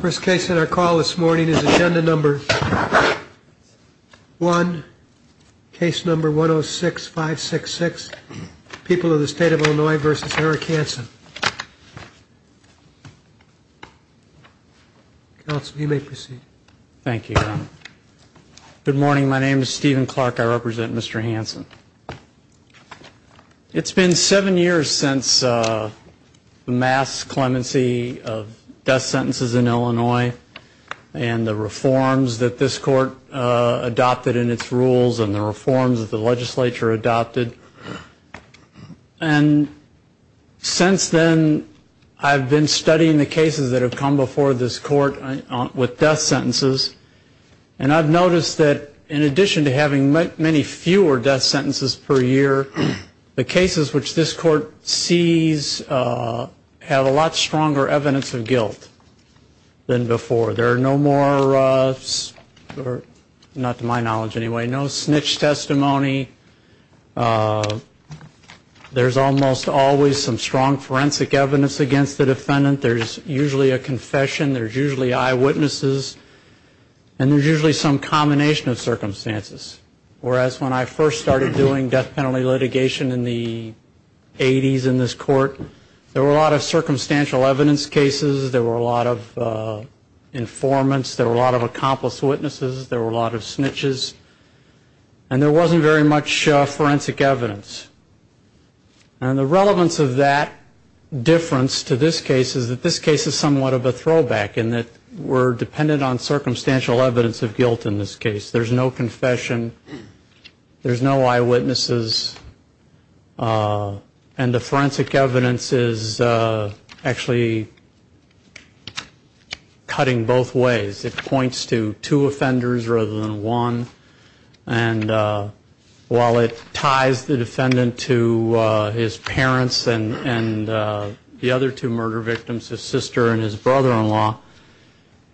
First case in our call this morning is agenda number one, case number 106566, People of the State of Illinois v. Eric Hanson. Counsel, you may proceed. Thank you, Your Honor. Good morning. My name is Stephen Clark. I represent Mr. Hanson. It's been seven years since the mass clemency of death sentences in Illinois and the reforms that this court adopted in its rules and the reforms that the legislature adopted. And since then, I've been studying the cases that have come before this court with death sentences. And I've noticed that in addition to having many fewer death sentences per year, the cases which this court sees have a lot stronger evidence of guilt than before. There are no more, not to my knowledge anyway, no snitch testimony. There's almost always some strong forensic evidence against the defendant. There's usually a confession. There's usually eyewitnesses. And there's usually some combination of circumstances. Whereas when I first started doing death penalty litigation in the 80s in this court, there were a lot of circumstantial evidence cases. There were a lot of informants. There were a lot of accomplice witnesses. There were a lot of snitches. And there wasn't very much forensic evidence. And the relevance of that difference to this case is that this case is somewhat of a throwback in that we're dependent on circumstantial evidence of guilt in this case. There's no confession. There's no eyewitnesses. And the forensic evidence is actually cutting both ways. It points to two offenders rather than one. And while it ties the defendant to his parents and the other two murder victims, his sister and his brother-in-law,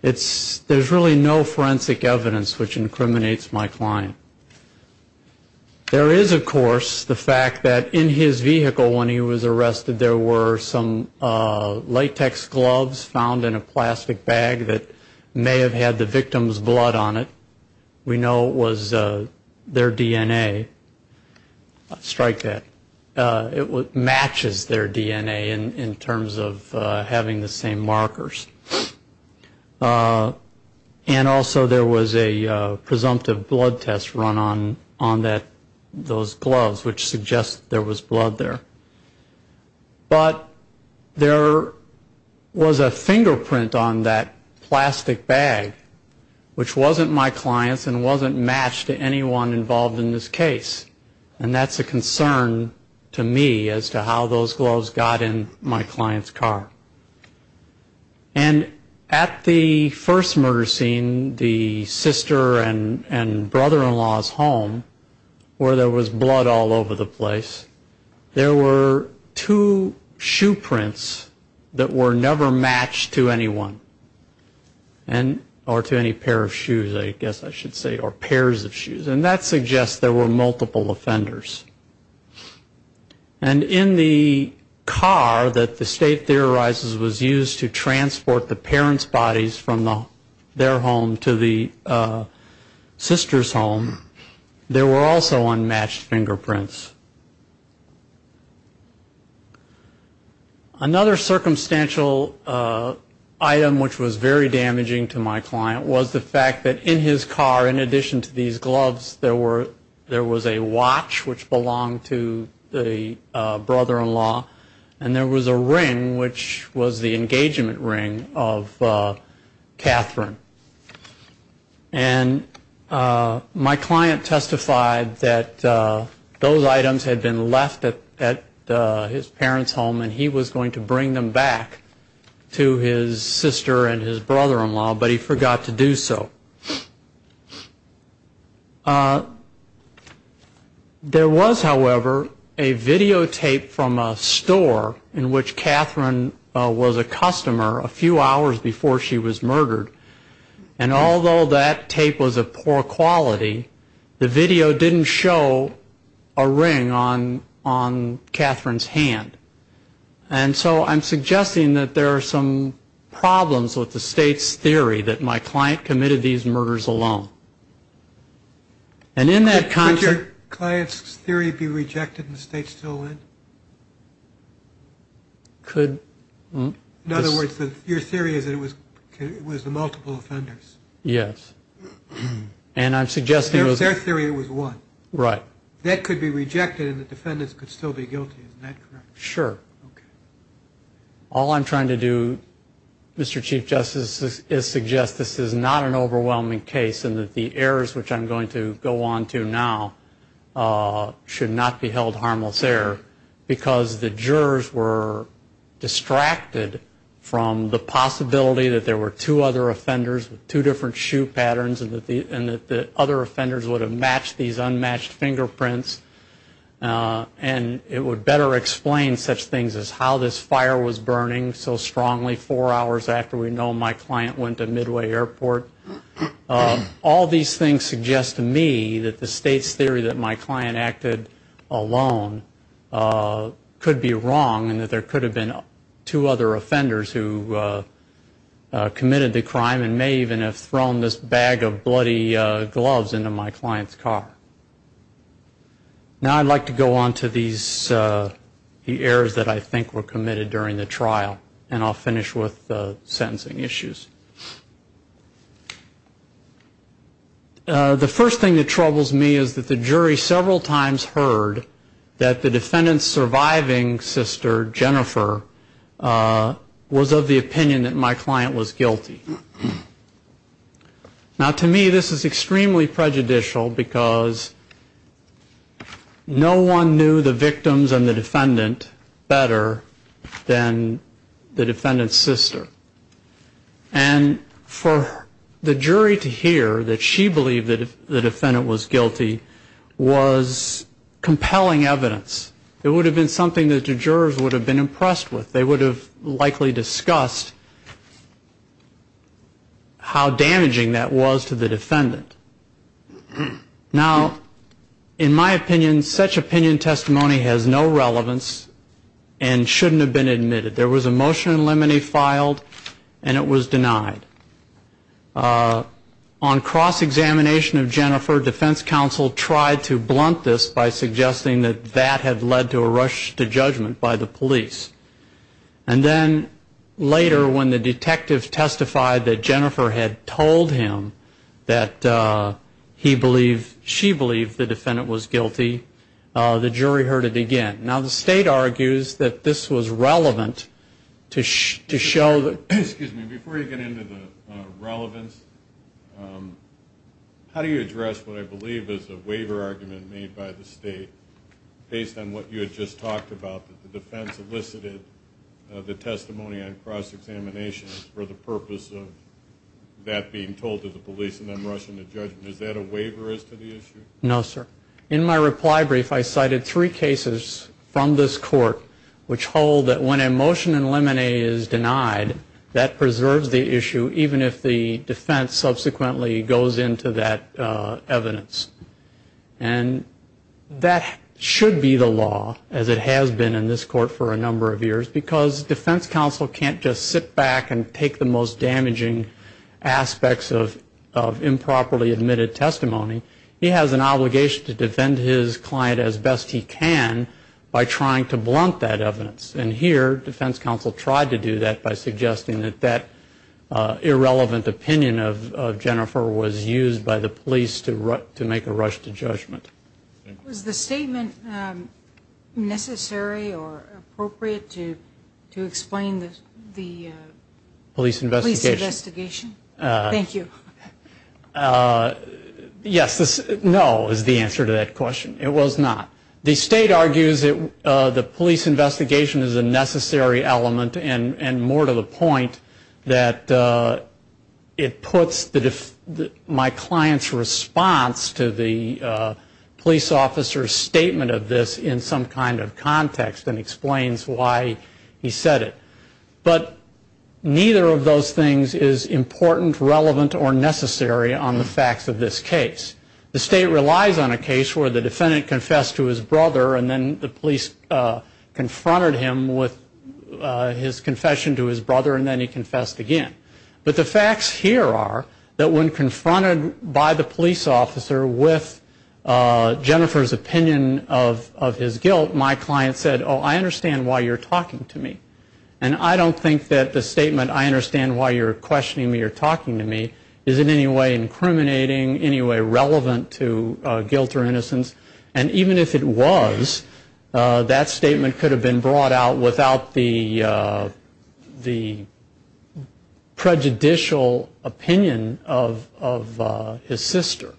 there's really no forensic evidence which incriminates my client. There is, of course, the fact that in his vehicle when he was arrested there were some latex gloves found in a plastic bag that may have had the victim's blood on it. We know it was their DNA. Strike that. It matches their DNA in terms of having the same markers. And also there was a presumptive blood test run on those gloves which suggests there was blood there. But there was a fingerprint on that plastic bag which wasn't my client's and wasn't matched to anyone involved in this case. And that's a concern to me as to how those gloves got in my client's car. And at the first murder scene, the sister and brother-in-law's home where there was blood all over the place, there were two shoe prints that were never matched to anyone or to any pair of shoes, I guess I should say, or pairs of shoes. And that suggests there were multiple offenders. And in the car that the state theorizes was used to transport the parents' bodies from their home to the sister's home, there were also unmatched fingerprints. Another circumstantial item which was very damaging to my client was the fact that in his car, in addition to these gloves, there was a watch which belonged to the brother-in-law, and there was a ring which was the engagement ring of Catherine. And my client testified that those items had been left at his parents' home, and he was going to bring them back to his sister and his brother-in-law, but he forgot to do so. There was, however, a videotape from a store in which Catherine was a customer a few hours before she was murdered, and although that tape was of poor quality, the video didn't show a ring on Catherine's hand. And so I'm suggesting that there are some problems with the state's theory that my client committed these murders alone. And in that concert... Could your client's theory be rejected and the state still win? Could... In other words, your theory is that it was the multiple offenders? Yes. And I'm suggesting... Their theory was what? Right. That could be rejected and the defendants could still be guilty, isn't that correct? Sure. Okay. All I'm trying to do, Mr. Chief Justice, is suggest this is not an overwhelming case and that the errors which I'm going to go on to now should not be held harmless there, because the jurors were distracted from the possibility that there were two other offenders with two different shoe patterns and that the other offenders would have matched these unmatched fingerprints. And it would better explain such things as how this fire was burning so strongly four hours after we know my client went to Midway Airport. All these things suggest to me that the state's theory that my client acted alone could be wrong and that there could have been two other offenders who committed the crime and may even have thrown this bag of bloody gloves into my client's car. Now I'd like to go on to these errors that I think were committed during the trial and I'll finish with the sentencing issues. The first thing that troubles me is that the jury several times heard that the defendant's surviving sister, Jennifer, was of the opinion that my client was guilty. Now to me this is extremely prejudicial because no one knew the victims and the defendant better than the defendant's sister. And for the jury to hear that she believed that the defendant was guilty was compelling evidence. It would have been something that the jurors would have been impressed with. They would have likely discussed how damaging that was to the defendant. Now in my opinion such opinion testimony has no relevance and shouldn't have been admitted. There was a motion in limine filed and it was denied. On cross-examination of Jennifer, defense counsel tried to blunt this by suggesting that that had led to a rush to judgment by the police. And then later when the detective testified that Jennifer had told him that he believed, she believed the defendant was guilty, the jury heard it again. Now the state argues that this was relevant to show that... Excuse me, before you get into the relevance, how do you address what I believe is a waiver argument made by the state based on what you had just talked about, that the defense elicited the testimony on cross-examination for the purpose of that being told to the police and then rushing to judgment? Is that a waiver as to the issue? No, sir. In my reply brief I cited three cases from this court which hold that when a motion in limine is denied, that preserves the issue even if the defense subsequently goes into that evidence. And that should be the law, as it has been in this court for a number of years, because defense counsel can't just sit back and take the most damaging aspects of improperly admitted testimony. He has an obligation to defend his client as best he can by trying to blunt that evidence. And here defense counsel tried to do that by suggesting that that irrelevant opinion of Jennifer was used by the police to make a rush to judgment. Was the statement necessary or appropriate to explain the police investigation? Thank you. Yes, no, is the answer to that question. It was not. The state argues that the police investigation is a necessary element and more to the point that it puts my client's response to the police officer's statement of this in some kind of context and explains why he said it. But neither of those things is important, relevant, or necessary on the facts of this case. The state relies on a case where the defendant confessed to his brother and then the police confronted him with his confession to his brother and then he confessed again. But the facts here are that when confronted by the police officer with Jennifer's opinion of his guilt, my client said, oh, I understand why you're talking to me. And I don't think that the statement, I understand why you're questioning me or talking to me, is in any way incriminating, any way relevant to guilt or innocence. And even if it was, that statement could have been brought out without the prejudicial opinion of his sister.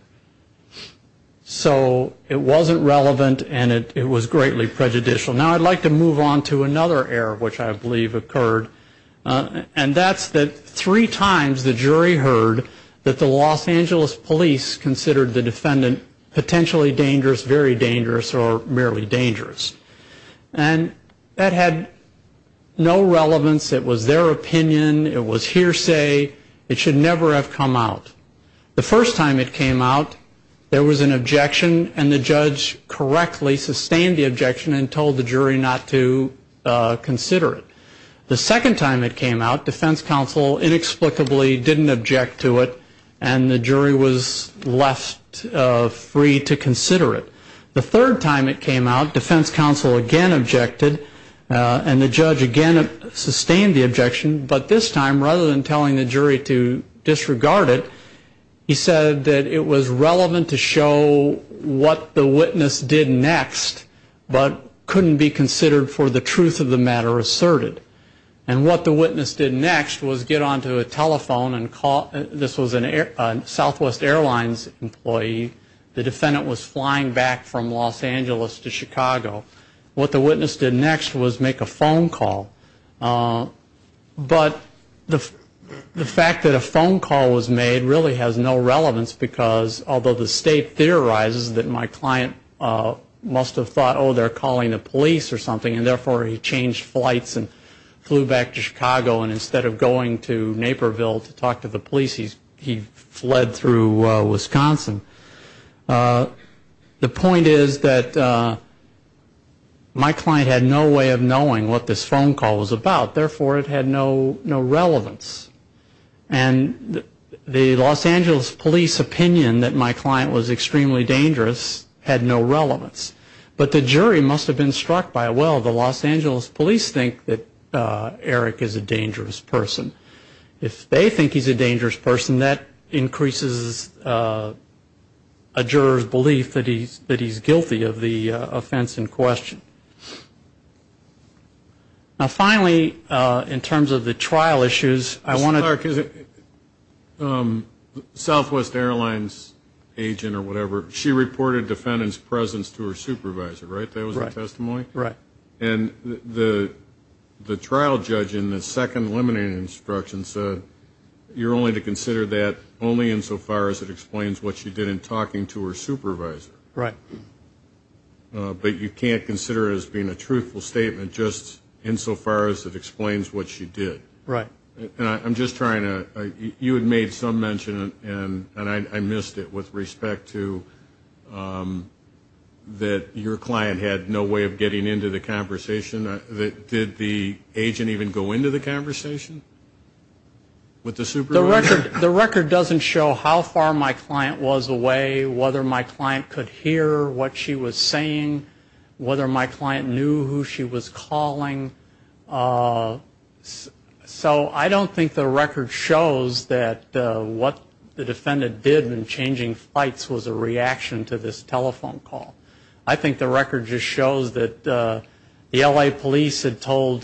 So it wasn't relevant and it was greatly prejudicial. Now I'd like to move on to another error, which I believe occurred, and that's that three times the jury heard that the Los Angeles police considered the defendant potentially dangerous very dangerous or merely dangerous. And that had no relevance. It was their opinion. It was hearsay. It should never have come out. The first time it came out, there was an objection and the judge correctly sustained the objection and told the jury not to consider it. The second time it came out, defense counsel inexplicably didn't object to it and the jury was left free to consider it. The third time it came out, defense counsel again objected and the judge again sustained the objection, but this time rather than telling the jury to disregard it, he said that it was relevant to show what the witness did next, but couldn't be considered for the truth of the matter asserted. And what the witness did next was get onto a telephone and call, this was a Southwest Airlines employee. The defendant was flying back from Los Angeles to Chicago. What the witness did next was make a phone call. But the fact that a phone call was made really has no relevance because, although the state theorizes that my client must have thought, oh, they're calling the police or something, and therefore he changed flights and flew back to Chicago and instead of going to Naperville to talk to the police, he fled through Wisconsin. The point is that my client had no way of knowing what this phone call was about, therefore it had no relevance. And the Los Angeles police opinion that my client was extremely dangerous had no relevance. But the jury must have been struck by, well, the Los Angeles police think that Eric is a dangerous person. If they think he's a dangerous person, that increases a juror's belief that he's guilty of the offense in question. Now, finally, in terms of the trial issues, I want to- Southwest Airlines agent or whatever, she reported defendant's presence to her supervisor, right? That was her testimony? Right. And the trial judge in the second limiting instruction said, you're only to consider that only insofar as it explains what she did in talking to her supervisor. Right. But you can't consider it as being a truthful statement just insofar as it explains what she did. Right. I'm just trying to-you had made some mention, and I missed it, with respect to that your client had no way of getting into the conversation. Did the agent even go into the conversation with the supervisor? The record doesn't show how far my client was away, whether my client could hear what she was saying, whether my client knew who she was calling. So I don't think the record shows that what the defendant did when changing flights was a reaction to this telephone call. I think the record just shows that the L.A. police had told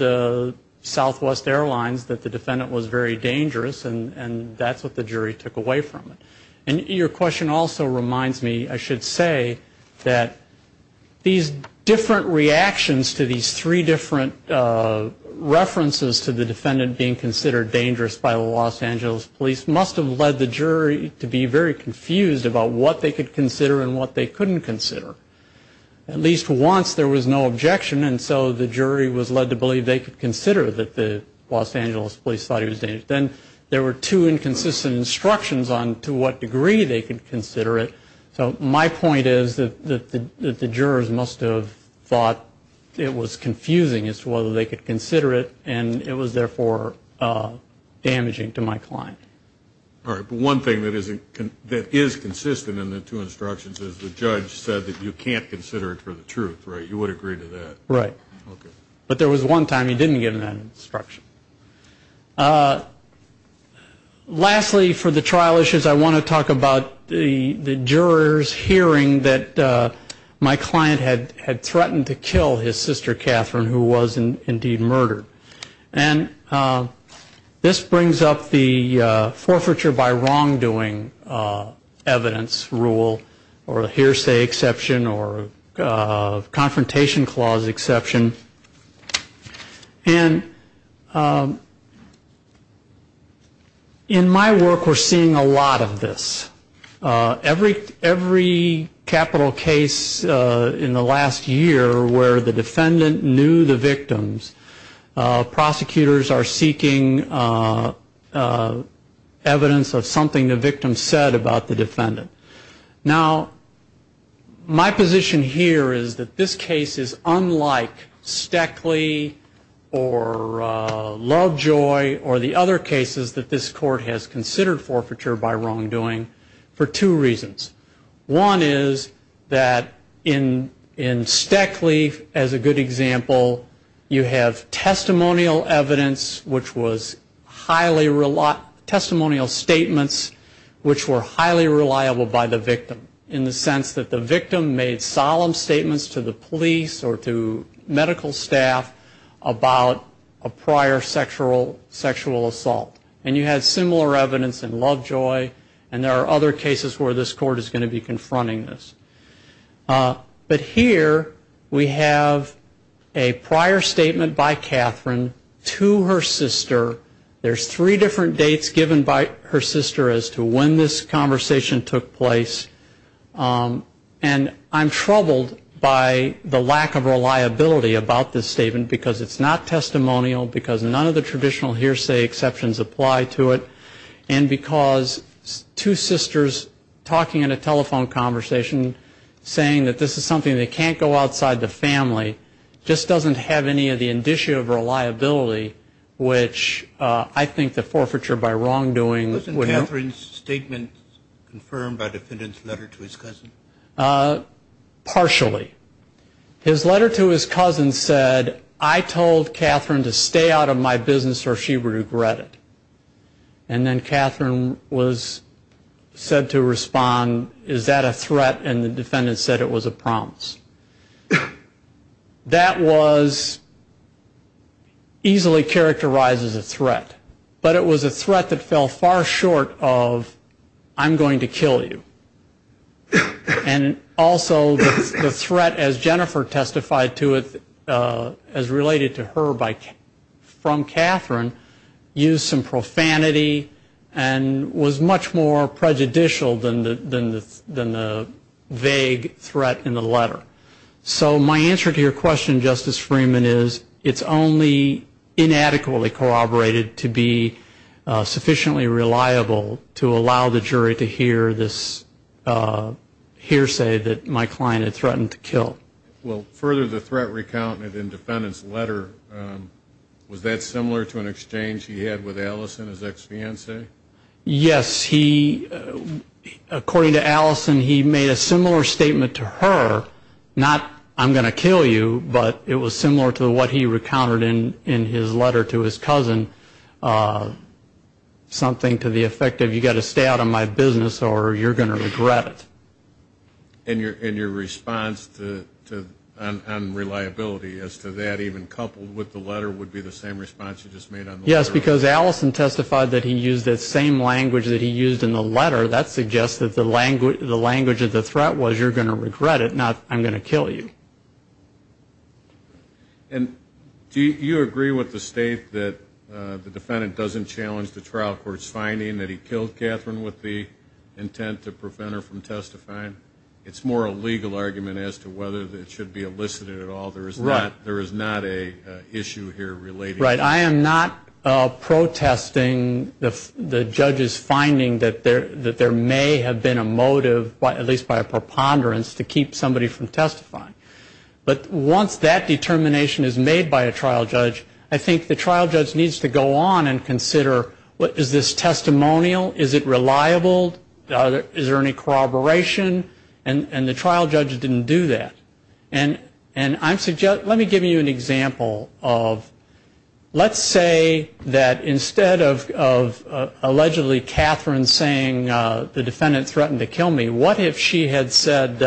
Southwest Airlines that the defendant was very dangerous, and that's what the jury took away from it. And your question also reminds me, I should say, that these different reactions to these three different references to the defendant being considered dangerous by the Los Angeles police must have led the jury to be very confused about what they could consider and what they couldn't consider. At least once there was no objection, and so the jury was led to believe they could consider that the Los Angeles police thought he was dangerous. Then there were two inconsistent instructions on to what degree they could consider it. So my point is that the jurors must have thought it was confusing as to whether they could consider it, and it was therefore damaging to my client. All right. But one thing that is consistent in the two instructions is the judge said that you can't consider it for the truth, right? You would agree to that? Right. Okay. But there was one time he didn't give that instruction. Lastly, for the trial issues, I want to talk about the jurors hearing that my client had threatened to kill his sister, Catherine, who was indeed murdered. And this brings up the forfeiture by wrongdoing evidence rule or hearsay exception or confrontation clause exception. And in my work we're seeing a lot of this. Every capital case in the last year where the defendant knew the victims, prosecutors are seeking evidence of something the victim said about the defendant. Now, my position here is that this case is unlike Stackley or Lovejoy or the other cases that this court has considered forfeiture by wrongdoing for two reasons. One is that in Stackley, as a good example, you have testimonial evidence, which was highly, testimonial statements which were highly reliable by the victim in the sense that the victim made solemn statements to the police or to medical staff about a prior sexual assault. And you had similar evidence in Lovejoy, and there are other cases where this court is going to be confronting this. But here we have a prior statement by Catherine to her sister. There's three different dates given by her sister as to when this conversation took place. And I'm troubled by the lack of reliability about this statement because it's not testimonial, because none of the traditional hearsay exceptions apply to it, and because two sisters talking in a telephone conversation saying that this is something that can't go outside the family just doesn't have any of the indicia of reliability, which I think the forfeiture by wrongdoing would help. Wasn't Catherine's statement confirmed by the defendant's letter to his cousin? Partially. His letter to his cousin said, I told Catherine to stay out of my business or she would regret it. And then Catherine was said to respond, is that a threat? And the defendant said it was a promise. That was easily characterized as a threat, but it was a threat that fell far short of I'm going to kill you. And also the threat, as Jennifer testified to it, as related to her from Catherine, used some profanity and was much more prejudicial than the vague threat in the letter. So my answer to your question, Justice Freeman, is it's only inadequately corroborated to be sufficiently reliable to allow the jury to hear this hearsay that my client had threatened to kill. Well, further to the threat recount in the defendant's letter, was that similar to an exchange he had with Allison, his ex-fiancee? Yes. According to Allison, he made a similar statement to her, not I'm going to kill you, but it was similar to what he recounted in his letter to his cousin, something to the effect of, you've got to stay out of my business or you're going to regret it. And your response on reliability as to that, even coupled with the letter, would be the same response you just made on the letter? Yes, because Allison testified that he used that same language that he used in the letter. That suggests that the language of the threat was you're going to regret it, not I'm going to kill you. And do you agree with the state that the defendant doesn't challenge the trial court's finding that he killed Catherine with the intent to prevent her from testifying? It's more a legal argument as to whether it should be elicited at all. There is not an issue here relating to that. Right. I am not protesting the judge's finding that there may have been a motive, at least by a preponderance, to keep somebody from testifying. But once that determination is made by a trial judge, I think the trial judge needs to go on and consider is this testimonial? Is it reliable? Is there any corroboration? And the trial judge didn't do that. And let me give you an example of let's say that instead of allegedly Catherine saying, the defendant threatened to kill me, what if she had said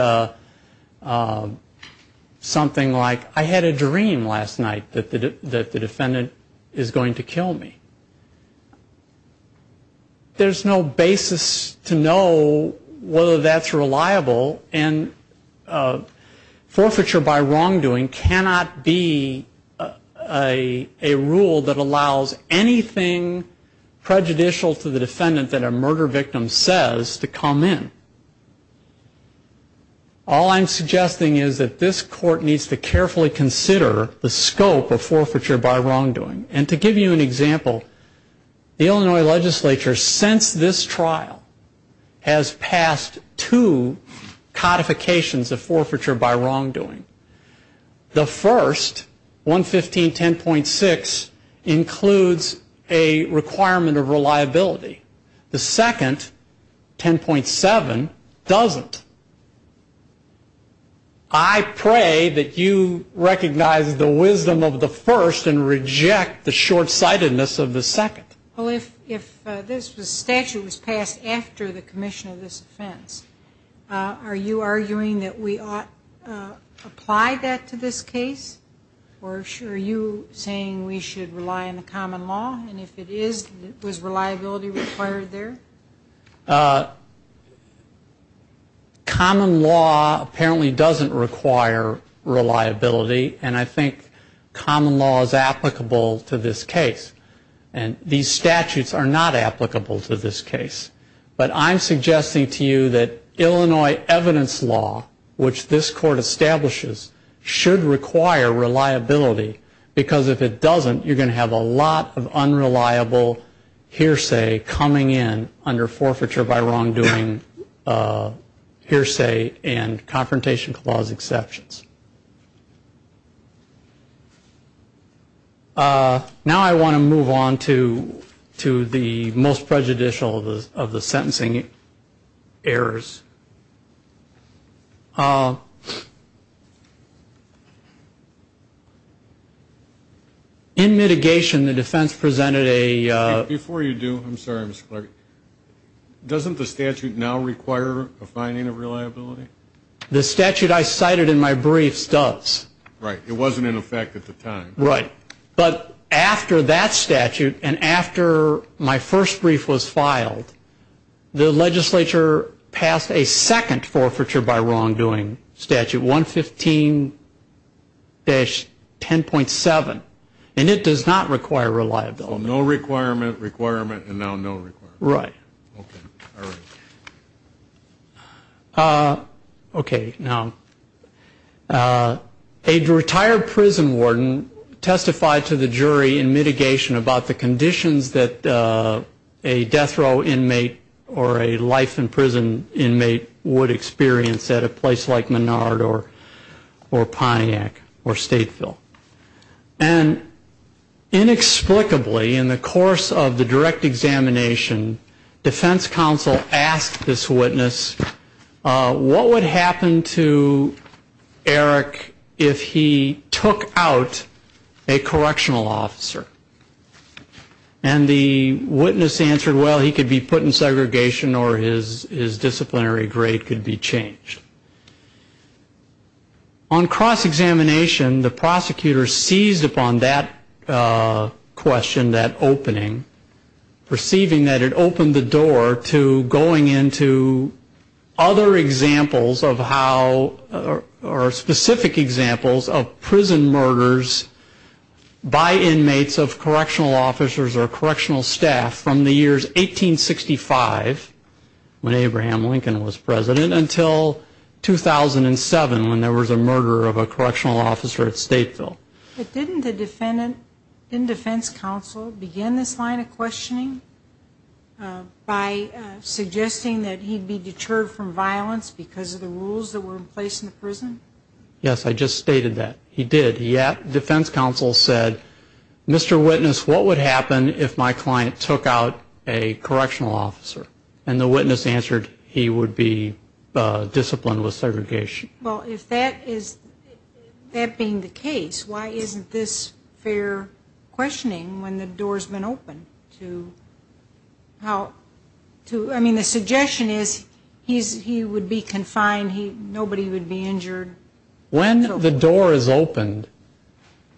something like, I had a dream last night that the defendant is going to kill me. There's no basis to know whether that's reliable, and forfeiture by wrongdoing cannot be a rule that allows anything prejudicial to the defendant that a murder victim says to come in. All I'm suggesting is that this court needs to carefully consider the scope of forfeiture by wrongdoing. And to give you an example, the Illinois legislature, since this trial, has passed two codifications of forfeiture by wrongdoing. The first, 115.10.6, includes a requirement of reliability. The second, 10.7, doesn't. I pray that you recognize the wisdom of the first and reject the short-sightedness of the second. Well, if this statute was passed after the commission of this offense, are you arguing that we ought to apply that to this case? Or are you saying we should rely on the common law? And if it is, was reliability required there? Common law apparently doesn't require reliability, and I think common law is applicable to this case. And these statutes are not applicable to this case. But I'm suggesting to you that Illinois evidence law, which this court establishes, should require reliability, because if it doesn't, you're going to have a lot of unreliable hearsay coming in under forfeiture by wrongdoing hearsay and confrontation clause exceptions. Now I want to move on to the most prejudicial of the sentencing errors. In mitigation, the defense presented a... Before you do, I'm sorry, Mr. Clark, doesn't the statute now require a finding of reliability? The statute I cited in my briefs does. Right. It wasn't in effect at the time. Right. But after that statute and after my first brief was filed, the legislature passed a second forfeiture by wrongdoing statute, 115-10.7, and it does not require reliability. So no requirement, requirement, and now no requirement. Right. Okay, now, a retired prison warden testified to the jury in mitigation about the conditions that a death row inmate or a life in prison inmate would experience at a place like Menard or Pontiac or Stateville. And inexplicably, in the course of the direct examination, defense counsel asked this witness, what would happen to Eric if he took out a correctional officer? And the witness answered, well, he could be put in segregation or his disciplinary grade could be changed. On cross-examination, the prosecutor seized upon that question, that opening, perceiving that it opened the door to going into other examples of how, or specific examples of prison murders by inmates of correctional officers or correctional staff from the years 1865, when Abraham Lincoln was president, until 2007, when there was a murder of a correctional officer at Stateville. But didn't the defense counsel begin this line of questioning by suggesting that he'd be deterred from violence because of the rules that were in place in the prison? Yes, I just stated that. He did. The defense counsel said, Mr. Witness, what would happen if my client took out a correctional officer? And the witness answered, he would be disciplined with segregation. Well, if that is, that being the case, why isn't this fair questioning when the door's been opened to how, to, I mean, the suggestion is he would be confined, nobody would be injured. When the door is opened,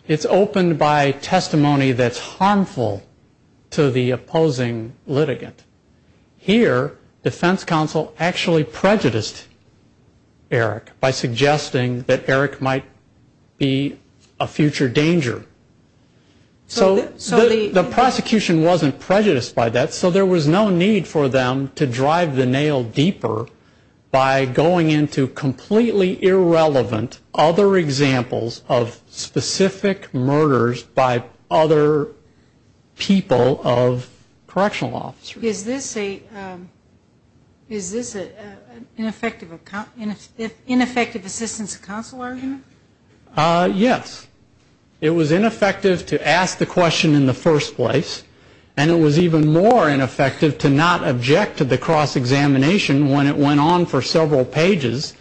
it's opened by testimony that's harmful to the opposing litigant. Here, defense counsel actually prejudiced Eric by suggesting that Eric might be a future danger. So the prosecution wasn't prejudiced by that, and so there was no need for them to drive the nail deeper by going into completely irrelevant other examples of specific murders by other people of correctional officers. Is this an ineffective assistance to counsel argument? Yes. It was ineffective to ask the question in the first place, and it was even more ineffective to not object to the cross-examination when it went on for several pages,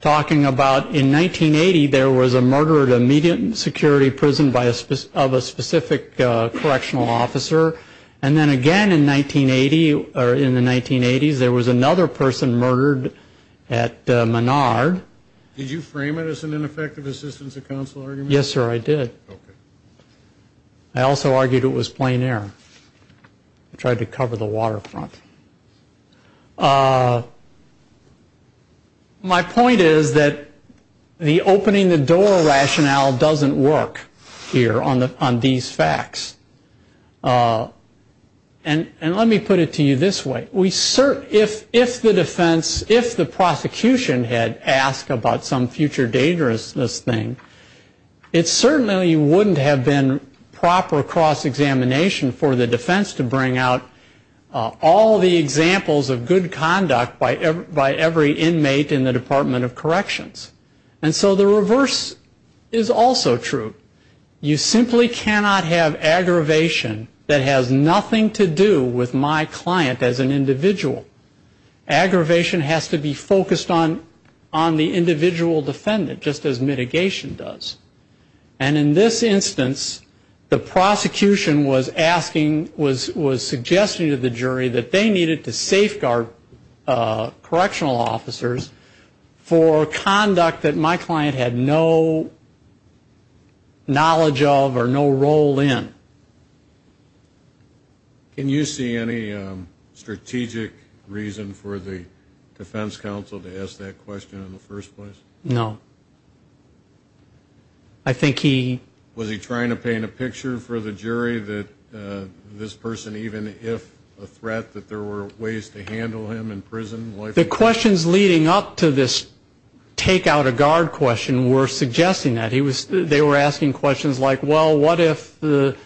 talking about in 1980 there was a murder at a media security prison of a specific correctional officer, and then again in 1980, or in the 1980s, there was another person murdered at Menard. Did you frame it as an ineffective assistance to counsel argument? Yes, sir, I did. Okay. I also argued it was plain error. I tried to cover the waterfront. My point is that the opening the door rationale doesn't work here on these facts. And let me put it to you this way. If the defense, if the prosecution had asked about some future dangerousness thing, it certainly wouldn't have been proper cross-examination for the defense to bring out all the examples of good conduct by every inmate in the Department of Corrections. And so the reverse is also true. You simply cannot have aggravation that has nothing to do with my client as an individual. Aggravation has to be focused on the individual defendant, just as mitigation does. And in this instance, the prosecution was asking, was suggesting to the jury that they needed to safeguard correctional officers for conduct that my client had no knowledge of or no role in. Can you see any strategic reason for the defense counsel to ask that question in the first place? No. I think he... Was he trying to paint a picture for the jury that this person, even if a threat that there were ways to handle him in prison... The questions leading up to this take out a guard question were suggesting that. They were asking questions like, well, what if the...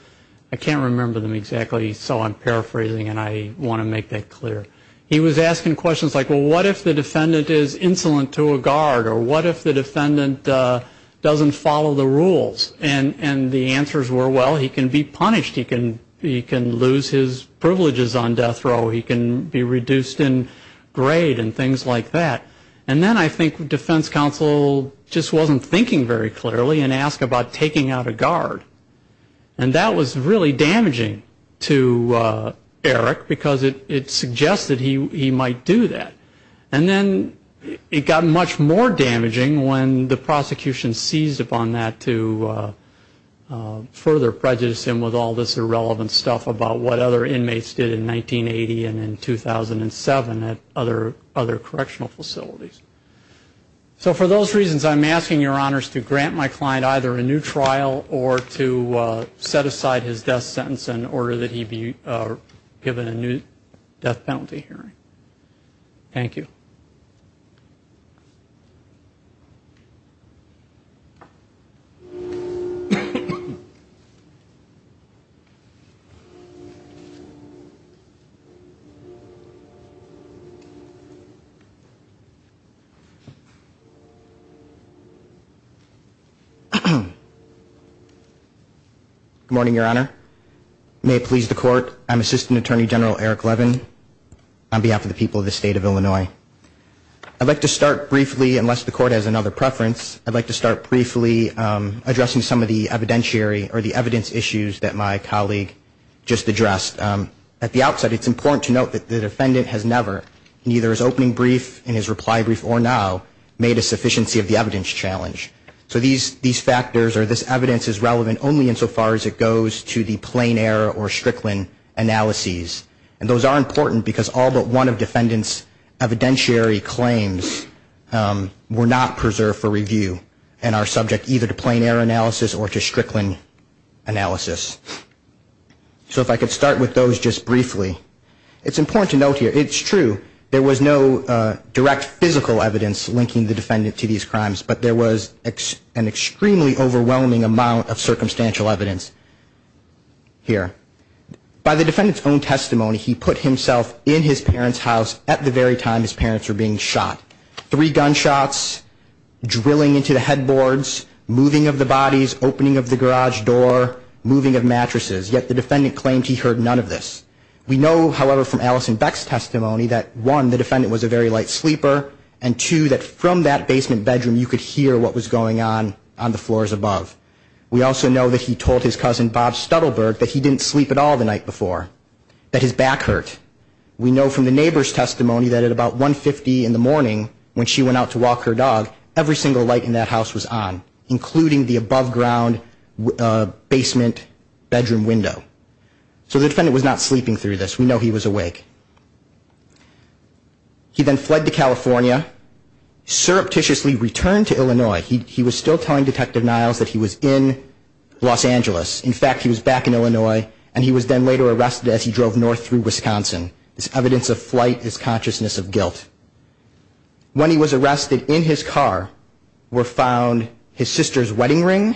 I can't remember them exactly, so I'm paraphrasing, and I want to make that clear. He was asking questions like, well, what if the defendant is insolent to a guard? Or what if the defendant doesn't follow the rules? And the answers were, well, he can be punished. He can lose his privileges on death row. He can be reduced in grade and things like that. And then I think defense counsel just wasn't thinking very clearly and asked about taking out a guard. And that was really damaging to Eric because it suggested he might do that. And then it got much more damaging when the prosecution seized upon that to further prejudice him with all this irrelevant stuff about what other inmates did in 1980 and in 2007 at other correctional facilities. So for those reasons, I'm asking your honors to grant my client either a new trial or to set aside his death sentence in order that he be given a new death penalty hearing. Thank you. Good morning, Your Honor. May it please the Court, I'm Assistant Attorney General Eric Levin. On behalf of the people of the State of Illinois. I'd like to start briefly, unless the Court has another preference, I'd like to start briefly addressing some of the evidentiary or the evidence issues that my colleague just addressed. At the outset, it's important to note that the defendant has never, neither his opening brief and his reply brief or now, made a sufficiency of the evidence challenge. So these factors or this evidence is relevant only insofar as it goes to the plain error or Strickland analyses. And those are important because all but one of defendant's evidentiary claims were not preserved for review and are subject either to plain error analysis or to Strickland analysis. So if I could start with those just briefly. It's important to note here, it's true, there was no direct physical evidence linking the defendant to these crimes, but there was an extremely overwhelming amount of circumstantial evidence here. By the defendant's own testimony, he put himself in his parents' house at the very time his parents were being shot. Three gunshots, drilling into the headboards, moving of the bodies, opening of the garage door, moving of mattresses. Yet the defendant claimed he heard none of this. We know, however, from Allison Beck's testimony that one, the defendant was a very light sleeper, and two, that from that basement bedroom you could hear what was going on on the floors above. We also know that he told his cousin Bob Stuttleberg that he didn't sleep at all the night before, that his back hurt. We know from the neighbor's testimony that at about 1.50 in the morning when she went out to walk her dog, every single light in that house was on, including the above ground basement bedroom window. So the defendant was not sleeping through this. We know he was awake. He then fled to California, surreptitiously returned to Illinois. He was still telling Detective Niles that he was in Los Angeles. In fact, he was back in Illinois, and he was then later arrested as he drove north through Wisconsin. This evidence of flight is consciousness of guilt. When he was arrested, in his car were found his sister's wedding ring,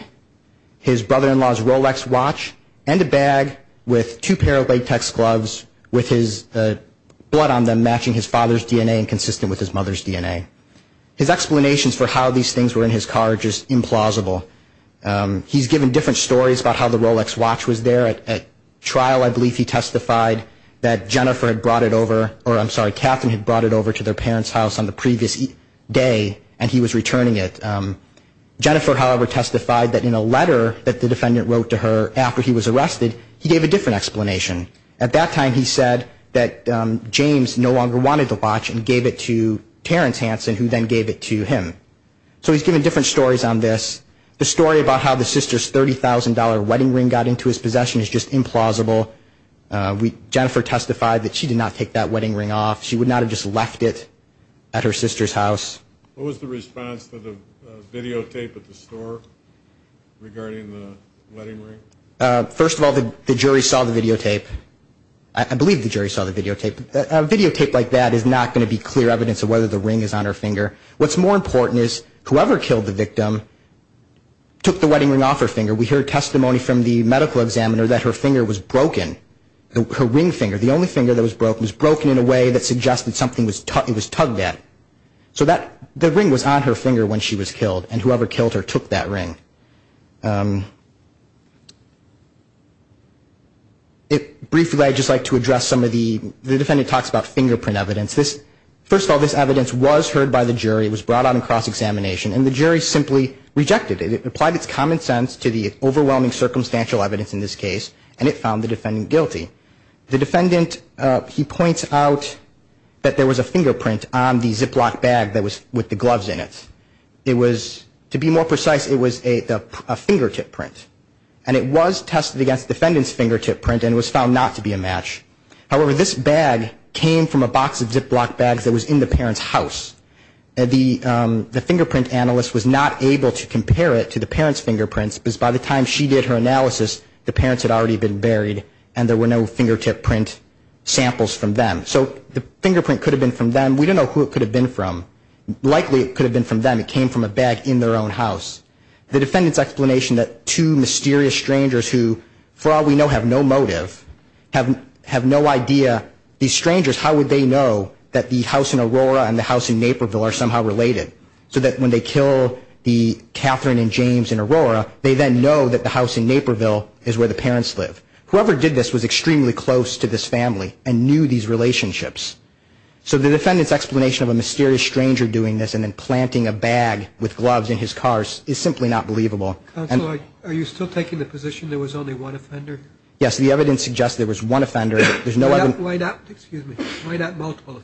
his brother-in-law's Rolex watch, and a bag with two pair of latex gloves with his blood on them matching his father's DNA and consistent with his mother's DNA. His explanations for how these things were in his car are just implausible. He's given different stories about how the Rolex watch was there. At trial, I believe he testified that Jennifer had brought it over, or I'm sorry, Catherine had brought it over to their parents' house on the previous day, and he was returning it. Jennifer, however, testified that in a letter that the defendant wrote to her after he was arrested, he gave a different explanation. At that time, he said that James no longer wanted the watch and gave it to Terrence Hansen, who then gave it to him. So he's given different stories on this. The story about how the sister's $30,000 wedding ring got into his possession is just implausible. Jennifer testified that she did not take that wedding ring off. She would not have just left it at her sister's house. What was the response to the videotape at the store regarding the wedding ring? First of all, the jury saw the videotape. I believe the jury saw the videotape. A videotape like that is not going to be clear evidence of whether the ring is on her finger. What's more important is whoever killed the victim took the wedding ring off her finger. We hear testimony from the medical examiner that her finger was broken, her ring finger. The only finger that was broken was broken in a way that suggested something was tugged at. So the ring was on her finger when she was killed, and whoever killed her took that ring. Briefly, I'd just like to address some of the defendant talks about fingerprint evidence. First of all, this evidence was heard by the jury. It was brought out in cross-examination, and the jury simply rejected it. It applied its common sense to the overwhelming circumstantial evidence in this case, and it found the defendant guilty. The defendant, he points out that there was a fingerprint on the Ziploc bag that was with the gloves in it. It was, to be more precise, it was a fingertip print. And it was tested against the defendant's fingertip print, and it was found not to be a match. However, this bag came from a box of Ziploc bags that was in the parent's house. The fingerprint analyst was not able to compare it to the parent's fingerprints, because by the time she did her analysis, the parents had already been buried, and there were no fingertip print samples from them. So the fingerprint could have been from them. We don't know who it could have been from. Likely, it could have been from them. It came from a bag in their own house. The defendant's explanation that two mysterious strangers who, for all we know, have no motive, have no idea. These strangers, how would they know that the house in Aurora and the house in Naperville are somehow related, so that when they kill the Katherine and James in Aurora, they then know that the house in Naperville is where the parents live. Whoever did this was extremely close to this family and knew these relationships. So the defendant's explanation of a mysterious stranger doing this and then planting a bag with gloves in his car is simply not believable. Counsel, are you still taking the position there was only one offender? Yes, the evidence suggests there was one offender. Why not multiple offenders?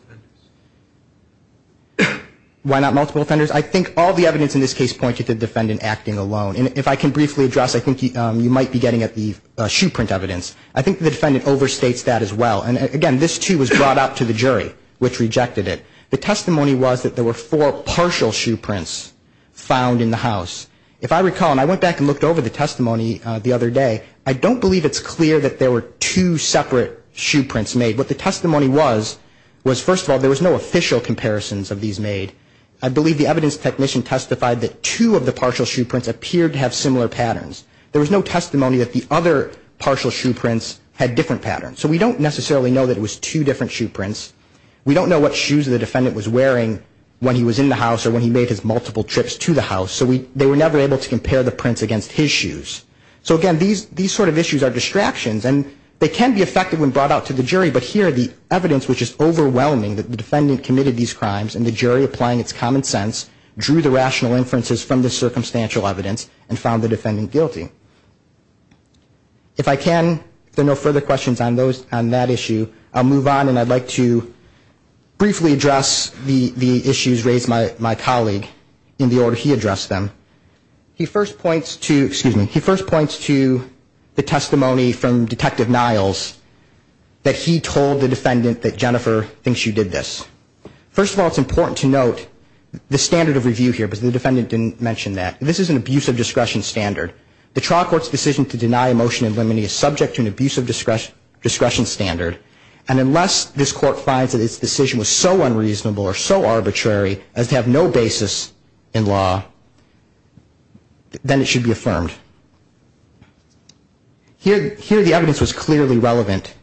Why not multiple offenders? I think all the evidence in this case pointed to the defendant acting alone. And if I can briefly address, I think you might be getting at the shoe print evidence. I think the defendant overstates that as well. And, again, this, too, was brought out to the jury, which rejected it. The testimony was that there were four partial shoe prints found in the house. If I recall, and I went back and looked over the testimony the other day, I don't believe it's clear that there were two separate shoe prints made. What the testimony was was, first of all, there was no official comparisons of these made. I believe the evidence technician testified that two of the partial shoe prints appeared to have similar patterns. There was no testimony that the other partial shoe prints had different patterns. So we don't necessarily know that it was two different shoe prints. We don't know what shoes the defendant was wearing when he was in the house or when he made his multiple trips to the house. So they were never able to compare the prints against his shoes. So, again, these sort of issues are distractions. And they can be affected when brought out to the jury. But here the evidence, which is overwhelming that the defendant committed these crimes and the jury, applying its common sense, drew the rational inferences from the circumstantial evidence and found the defendant guilty. If I can, if there are no further questions on that issue, I'll move on. And I'd like to briefly address the issues raised by my colleague in the order he addressed them. He first points to, excuse me, he first points to the testimony from Detective Niles that he told the defendant that Jennifer thinks you did this. First of all, it's important to note the standard of review here, but the defendant didn't mention that. This is an abuse of discretion standard. The trial court's decision to deny a motion in limine is subject to an abuse of discretion standard. And unless this court finds that its decision was so unreasonable or so arbitrary as to have no basis in law, then it should be affirmed. Here the evidence was clearly relevant.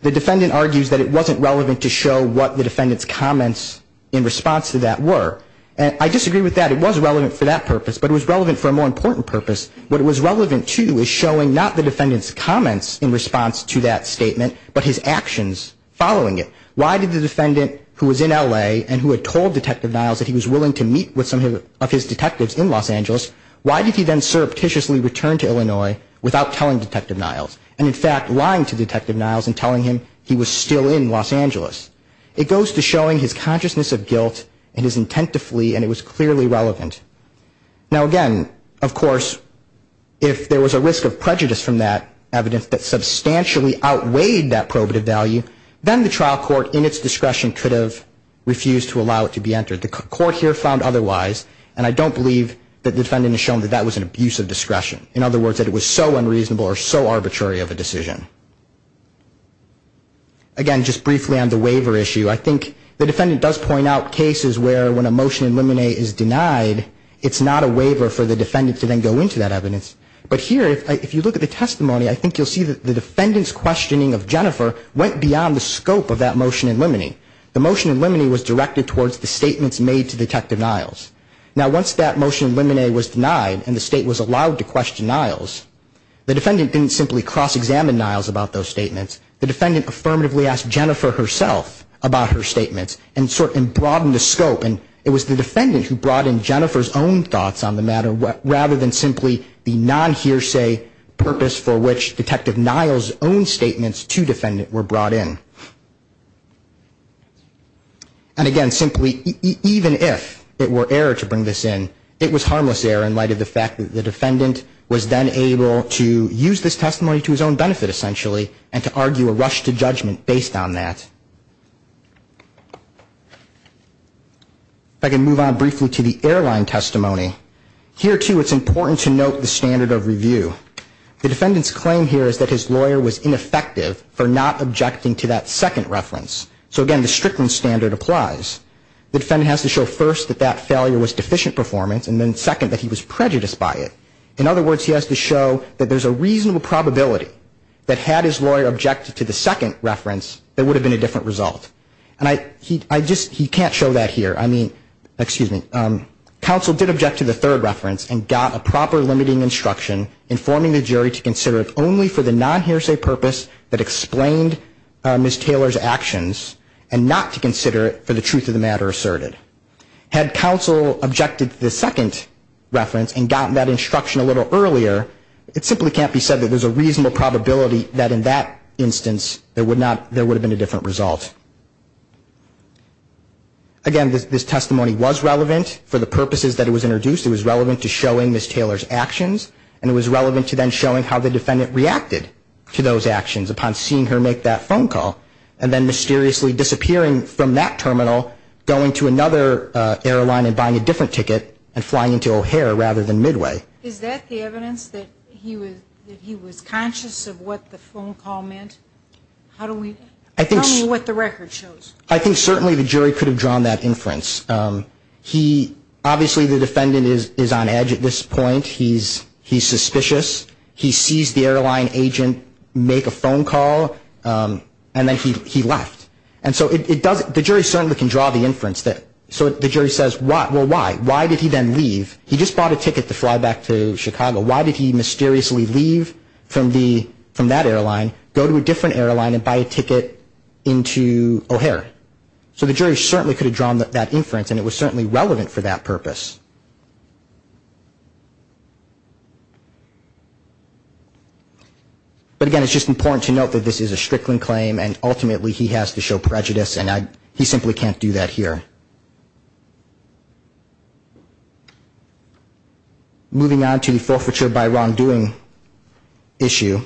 The defendant argues that it wasn't relevant to show what the defendant's comments in response to that were. And I disagree with that. It was relevant for that purpose, but it was relevant for a more important purpose. What it was relevant to is showing not the defendant's comments in response to that statement, but his actions following it. Why did the defendant, who was in L.A. and who had told Detective Niles that he was willing to meet with some of his detectives in Los Angeles, why did he then surreptitiously return to Illinois without telling Detective Niles, and in fact lying to Detective Niles and telling him he was still in Los Angeles? It goes to showing his consciousness of guilt and his intent to flee, and it was clearly relevant. Now, again, of course, if there was a risk of prejudice from that evidence that substantially outweighed that probative value, then the trial court in its discretion could have refused to allow it to be entered. The court here found otherwise, and I don't believe that the defendant has shown that that was an abuse of discretion. In other words, that it was so unreasonable or so arbitrary of a decision. Again, just briefly on the waiver issue, I think the defendant does point out cases where when a motion in limine is denied, it's not a waiver for the defendant to then go into that evidence. But here, if you look at the testimony, I think you'll see that the defendant's questioning of Jennifer went beyond the scope of that motion in limine. The motion in limine was directed towards the statements made to Detective Niles. Now, once that motion in limine was denied and the State was allowed to question Niles, the defendant didn't simply cross-examine Niles about those statements. The defendant affirmatively asked Jennifer herself about her statements and sort of broadened the scope. And it was the defendant who brought in Jennifer's own thoughts on the matter, rather than simply the non-hearsay purpose for which Detective Niles' own statements to defendant were brought in. And again, simply, even if it were error to bring this in, it was harmless error in light of the fact that the defendant was then able to use this testimony to his own benefit, essentially, and to argue a rush to judgment based on that. If I can move on briefly to the airline testimony. Here, too, it's important to note the standard of review. The defendant's claim here is that his lawyer was ineffective for not objecting to that second reference. So, again, the Strickland standard applies. The defendant has to show, first, that that failure was deficient performance, and then, second, that he was prejudiced by it. In other words, he has to show that there's a reasonable probability that had his lawyer objected to the second reference, there would have been a different result. And he can't show that here. I mean, excuse me. Counsel did object to the third reference and got a proper limiting instruction informing the jury to consider it only for the non-hearsay purpose that explained Ms. Taylor's actions, and not to consider it for the truth of the matter asserted. Had counsel objected to the second reference and gotten that instruction a little earlier, it simply can't be said that there's a reasonable probability that in that instance there would have been a different result. Again, this testimony was relevant for the purposes that it was introduced. It was relevant to showing Ms. Taylor's actions, and it was relevant to then showing how the defendant reacted to those actions upon seeing her make that phone call, and then mysteriously disappearing from that terminal, going to another airline and buying a different ticket, and flying into O'Hare rather than Midway. Is that the evidence that he was conscious of what the phone call meant? How do we – tell me what the record shows. I think certainly the jury could have drawn that inference. He – obviously the defendant is on edge at this point. He's suspicious. He sees the airline agent make a phone call, and then he left. And so it doesn't – the jury certainly can draw the inference that – so the jury says, well, why? Why did he then leave? He just bought a ticket to fly back to Chicago. Why did he mysteriously leave from the – from that airline, go to a different airline, and buy a ticket into O'Hare? So the jury certainly could have drawn that inference, and it was certainly relevant for that purpose. But again, it's just important to note that this is a Strickland claim, and ultimately he has to show prejudice, and I – he simply can't do that here. Moving on to the forfeiture by wrongdoing issue.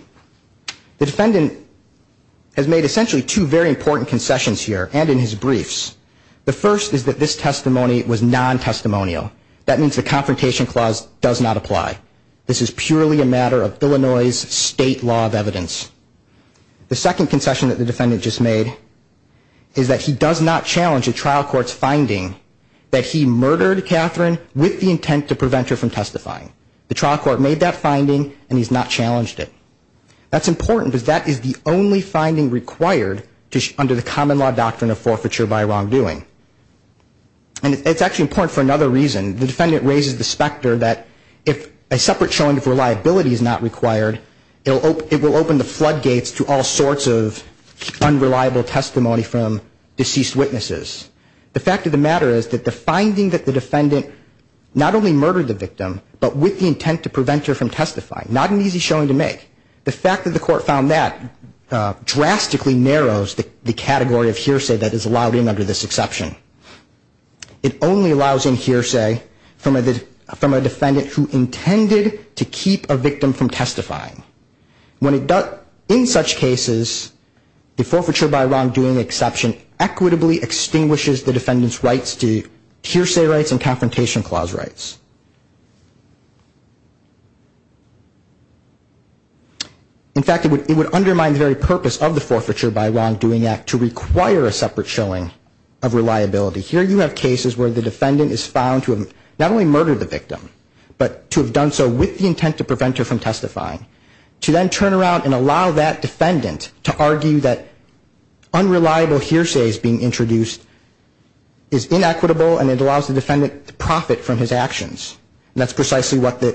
The defendant has made essentially two very important concessions here, and in his briefs. The first is that this testimony was non-testimonial. That means the Confrontation Clause does not apply. This is purely a matter of Illinois' state law of evidence. The second concession that the defendant just made is that he does not challenge a trial court's finding that he murdered Catherine with the intent to prevent her from testifying. The trial court made that finding, and he's not challenged it. That's important because that is the only finding required under the common law doctrine of forfeiture by wrongdoing. And it's actually important for another reason. The defendant raises the specter that if a separate showing of reliability is not required, it will open the floodgates to all sorts of unreliable testimony from deceased witnesses. The fact of the matter is that the finding that the defendant not only murdered the victim, but with the intent to prevent her from testifying, not an easy showing to make, the fact that the court found that drastically narrows the category of hearsay that is allowed in under this exception. It only allows in hearsay from a defendant who intended to keep a victim from testifying. When it does, in such cases, the forfeiture by wrongdoing exception equitably extinguishes the defendant's rights to hearsay rights and confrontation clause rights. In fact, it would undermine the very purpose of the forfeiture by wrongdoing act to require a separate showing of reliability. Here you have cases where the defendant is found to have not only murdered the victim, but to have done so with the intent to prevent her from testifying. To then turn around and allow that defendant to argue that unreliable hearsay is being introduced is inequitable and it allows the defendant to profit from his actions. And that's precisely what the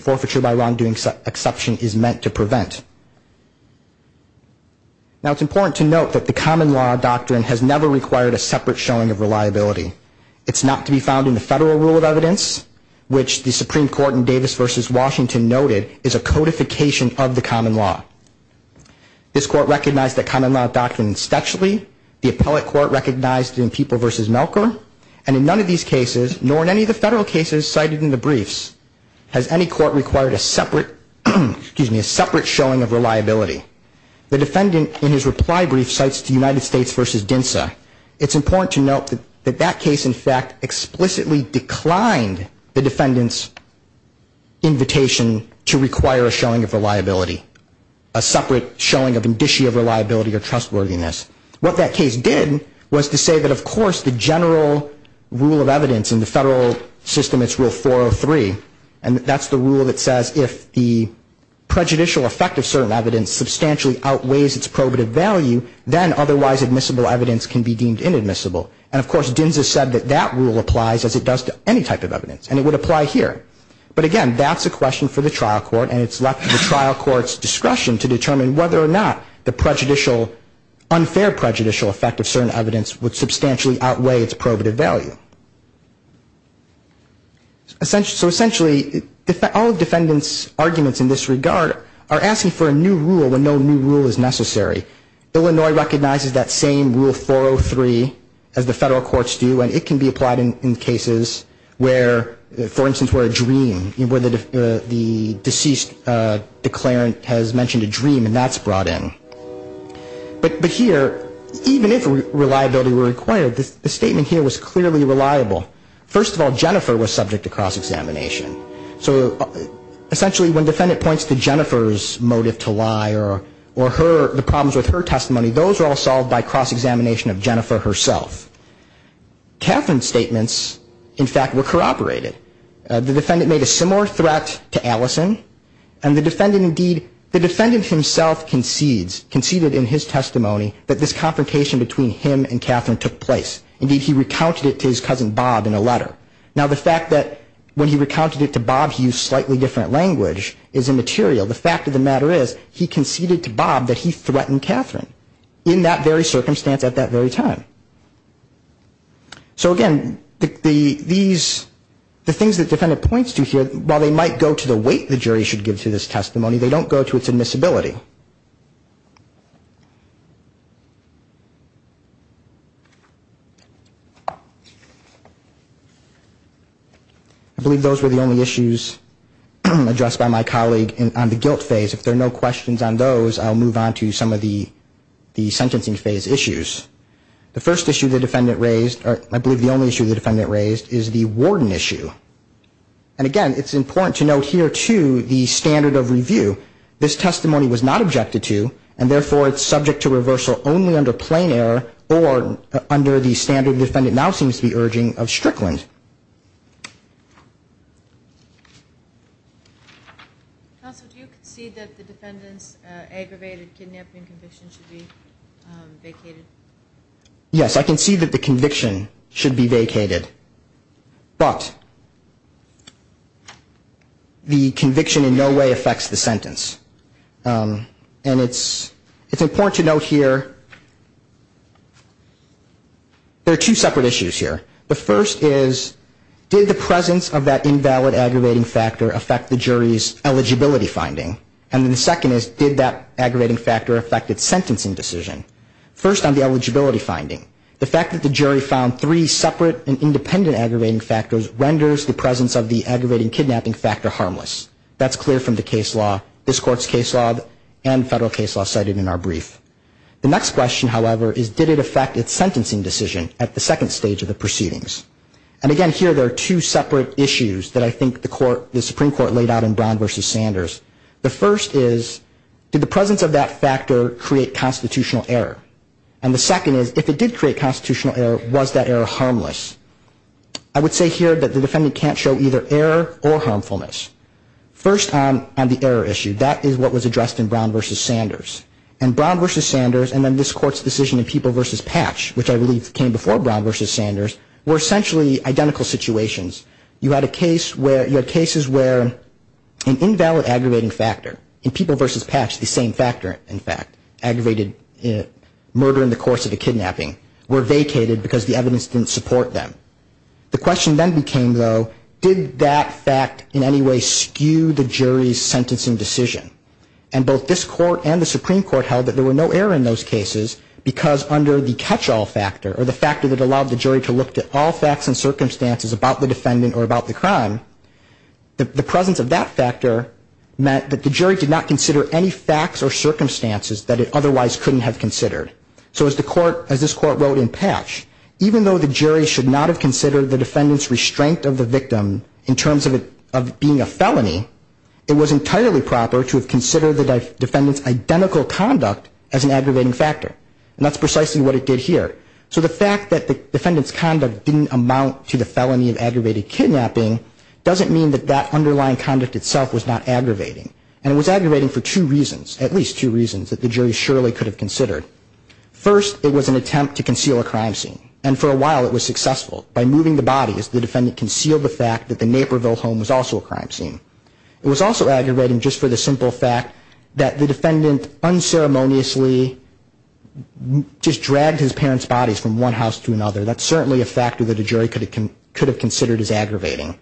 forfeiture by wrongdoing exception is meant to prevent. Now, it's important to note that the common law doctrine has never required a separate showing of reliability. It's not to be found in the federal rule of evidence, which the Supreme Court in Davis v. Washington noted is a codification of the common law. This court recognized the common law doctrine in Stetchley. The appellate court recognized it in People v. Melker. And in none of these cases, nor in any of the federal cases cited in the briefs, has any court required a separate showing of reliability. The defendant, in his reply brief, cites the United States v. Densa. It's important to note that that case, in fact, explicitly declined the defendant's invitation to require a showing of reliability, a separate showing of indicia of reliability or trustworthiness. What that case did was to say that, of course, the general rule of evidence in the federal system, it's rule 403, and that's the rule that says if the prejudicial effect of certain evidence substantially outweighs its probative value, then otherwise admissible evidence can be deemed inadmissible. And, of course, Densa said that that rule applies as it does to any type of evidence, and it would apply here. But, again, that's a question for the trial court, and it's left to the trial court's discretion to determine whether or not the unfair prejudicial effect of certain evidence would substantially outweigh its probative value. So, essentially, all defendants' arguments in this regard are asking for a new rule when no new rule is necessary. Illinois recognizes that same rule 403 as the federal courts do, and it can be applied in cases where, for instance, where a dream, where the deceased declarant has mentioned a dream, and that's brought in. But here, even if reliability were required, the statement here was clearly reliable. First of all, Jennifer was subject to cross-examination. So, essentially, when defendant points to Jennifer's motive to lie or her, the problems with her testimony, those are all solved by cross-examination of Jennifer herself. Catherine's statements, in fact, were corroborated. The defendant made a similar threat to Allison, and the defendant, indeed, the defendant himself concedes, conceded in his testimony that this confrontation between him and Catherine took place. Indeed, he recounted it to his cousin Bob in a letter. Now, the fact that when he recounted it to Bob, he used slightly different language is immaterial. The fact of the matter is he conceded to Bob that he threatened Catherine in that very circumstance at that very time. So, again, these, the things that the defendant points to here, while they might go to the weight the jury should give to this testimony, they don't go to its admissibility. I believe those were the only issues addressed by my colleague on the guilt phase. If there are no questions on those, I'll move on to some of the sentencing phase issues. The first issue the defendant raised, or I believe the only issue the defendant raised, is the warden issue. And, again, it's important to note here, too, the standard of review. This testimony was not objected to, and, therefore, it's subject to reversal only under plain error or under the standard the defendant now seems to be urging of Strickland. Counsel, do you concede that the defendant's aggravated kidnapping conviction should be vacated? Yes, I concede that the conviction should be vacated. But the conviction in no way affects the sentence. And it's important to note here, there are two separate issues here. The first is, did the presence of that invalid aggravating factor affect the jury's eligibility finding? And then the second is, did that aggravating factor affect its sentencing decision? First on the eligibility finding, the fact that the jury found three separate and independent aggravating factors renders the presence of the aggravating kidnapping factor harmless. That's clear from the case law, this Court's case law, and federal case law cited in our brief. The next question, however, is did it affect its sentencing decision at the second stage of the proceedings? And, again, here there are two separate issues that I think the Supreme Court laid out in Brown v. Sanders. The first is, did the presence of that factor create constitutional error? And the second is, if it did create constitutional error, was that error harmless? I would say here that the defendant can't show either error or harmfulness. First on the error issue, that is what was addressed in Brown v. Sanders. And Brown v. Sanders and then this Court's decision in People v. Patch, which I believe came before Brown v. Sanders, were essentially identical situations. You had cases where an invalid aggravating factor in People v. Patch, the same factor, in fact, aggravated murder in the course of the kidnapping, were vacated because the evidence didn't support them. The question then became, though, did that fact in any way skew the jury's sentencing decision? And both this Court and the Supreme Court held that there were no error in those cases, because under the catch-all factor, or the factor that allowed the jury to look to all facts and circumstances about the defendant or about the crime, the presence of that factor meant that the jury did not consider any facts or circumstances that it otherwise couldn't have considered. So as this Court wrote in Patch, even though the jury should not have considered the defendant's restraint of the victim in terms of it being a felony, it was entirely proper to have considered the defendant's identical conduct as an aggravating factor. And that's precisely what it did here. So the fact that the defendant's conduct didn't amount to the felony of aggravated kidnapping doesn't mean that that underlying conduct itself was not aggravating. And it was aggravating for two reasons, at least two reasons, that the jury surely could have considered. First, it was an attempt to conceal a crime scene, and for a while it was successful. By moving the bodies, the defendant concealed the fact that the Naperville home was also a crime scene. It was also aggravating just for the simple fact that the defendant unceremoniously just dragged his parents' bodies from one house to another. That's certainly a factor that a jury could have considered as aggravating.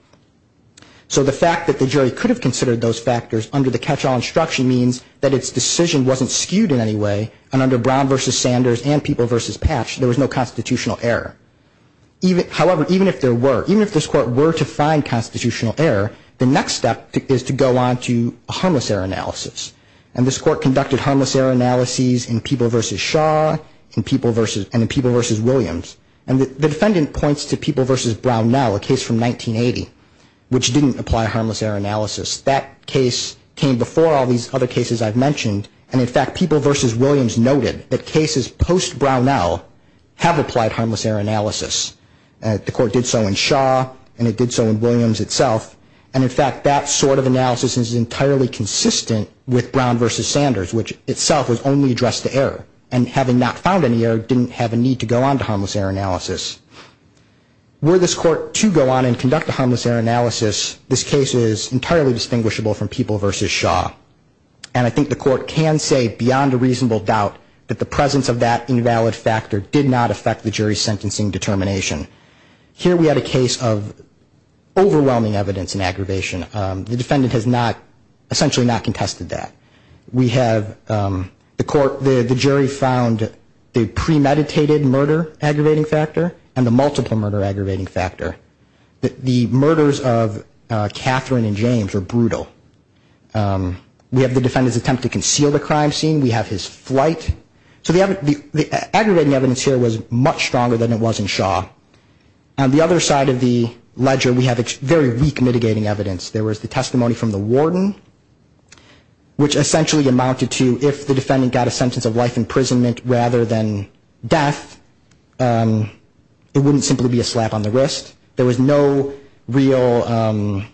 So the fact that the jury could have considered those factors under the catch-all instruction means that its decision wasn't skewed in any way, and under Brown v. Sanders and People v. Patch, there was no constitutional error. However, even if there were, even if this Court were to find constitutional error, the next step is to go on to harmless error analysis. And this Court conducted harmless error analyses in People v. Shaw and in People v. Williams. And the defendant points to People v. Brownell, a case from 1980, which didn't apply harmless error analysis. That case came before all these other cases I've mentioned, and in fact, People v. Williams noted that cases post-Brownell have applied harmless error analysis. The Court did so in Shaw, and it did so in Williams itself, and in fact, that sort of analysis is entirely consistent with Brown v. Sanders, which itself was only addressed to error, and having not found any error, didn't have a need to go on to harmless error analysis. Were this Court to go on and conduct a harmless error analysis, this case is entirely distinguishable from People v. Shaw. And I think the Court can say beyond a reasonable doubt that the presence of that invalid factor did not affect the jury's sentencing decision. Here we had a case of overwhelming evidence and aggravation. The defendant has not, essentially not contested that. We have the Court, the jury found the premeditated murder aggravating factor and the multiple murder aggravating factor. The murders of Catherine and James were brutal. We have the defendant's attempt to conceal the crime scene. We have his flight. So the aggravating evidence here was much stronger than it was in Shaw. On the other side of the ledger, we have very weak mitigating evidence. There was the testimony from the warden, which essentially amounted to if the defendant got a sentence of life imprisonment rather than death, it wouldn't simply be a slap on the wrist. There was no method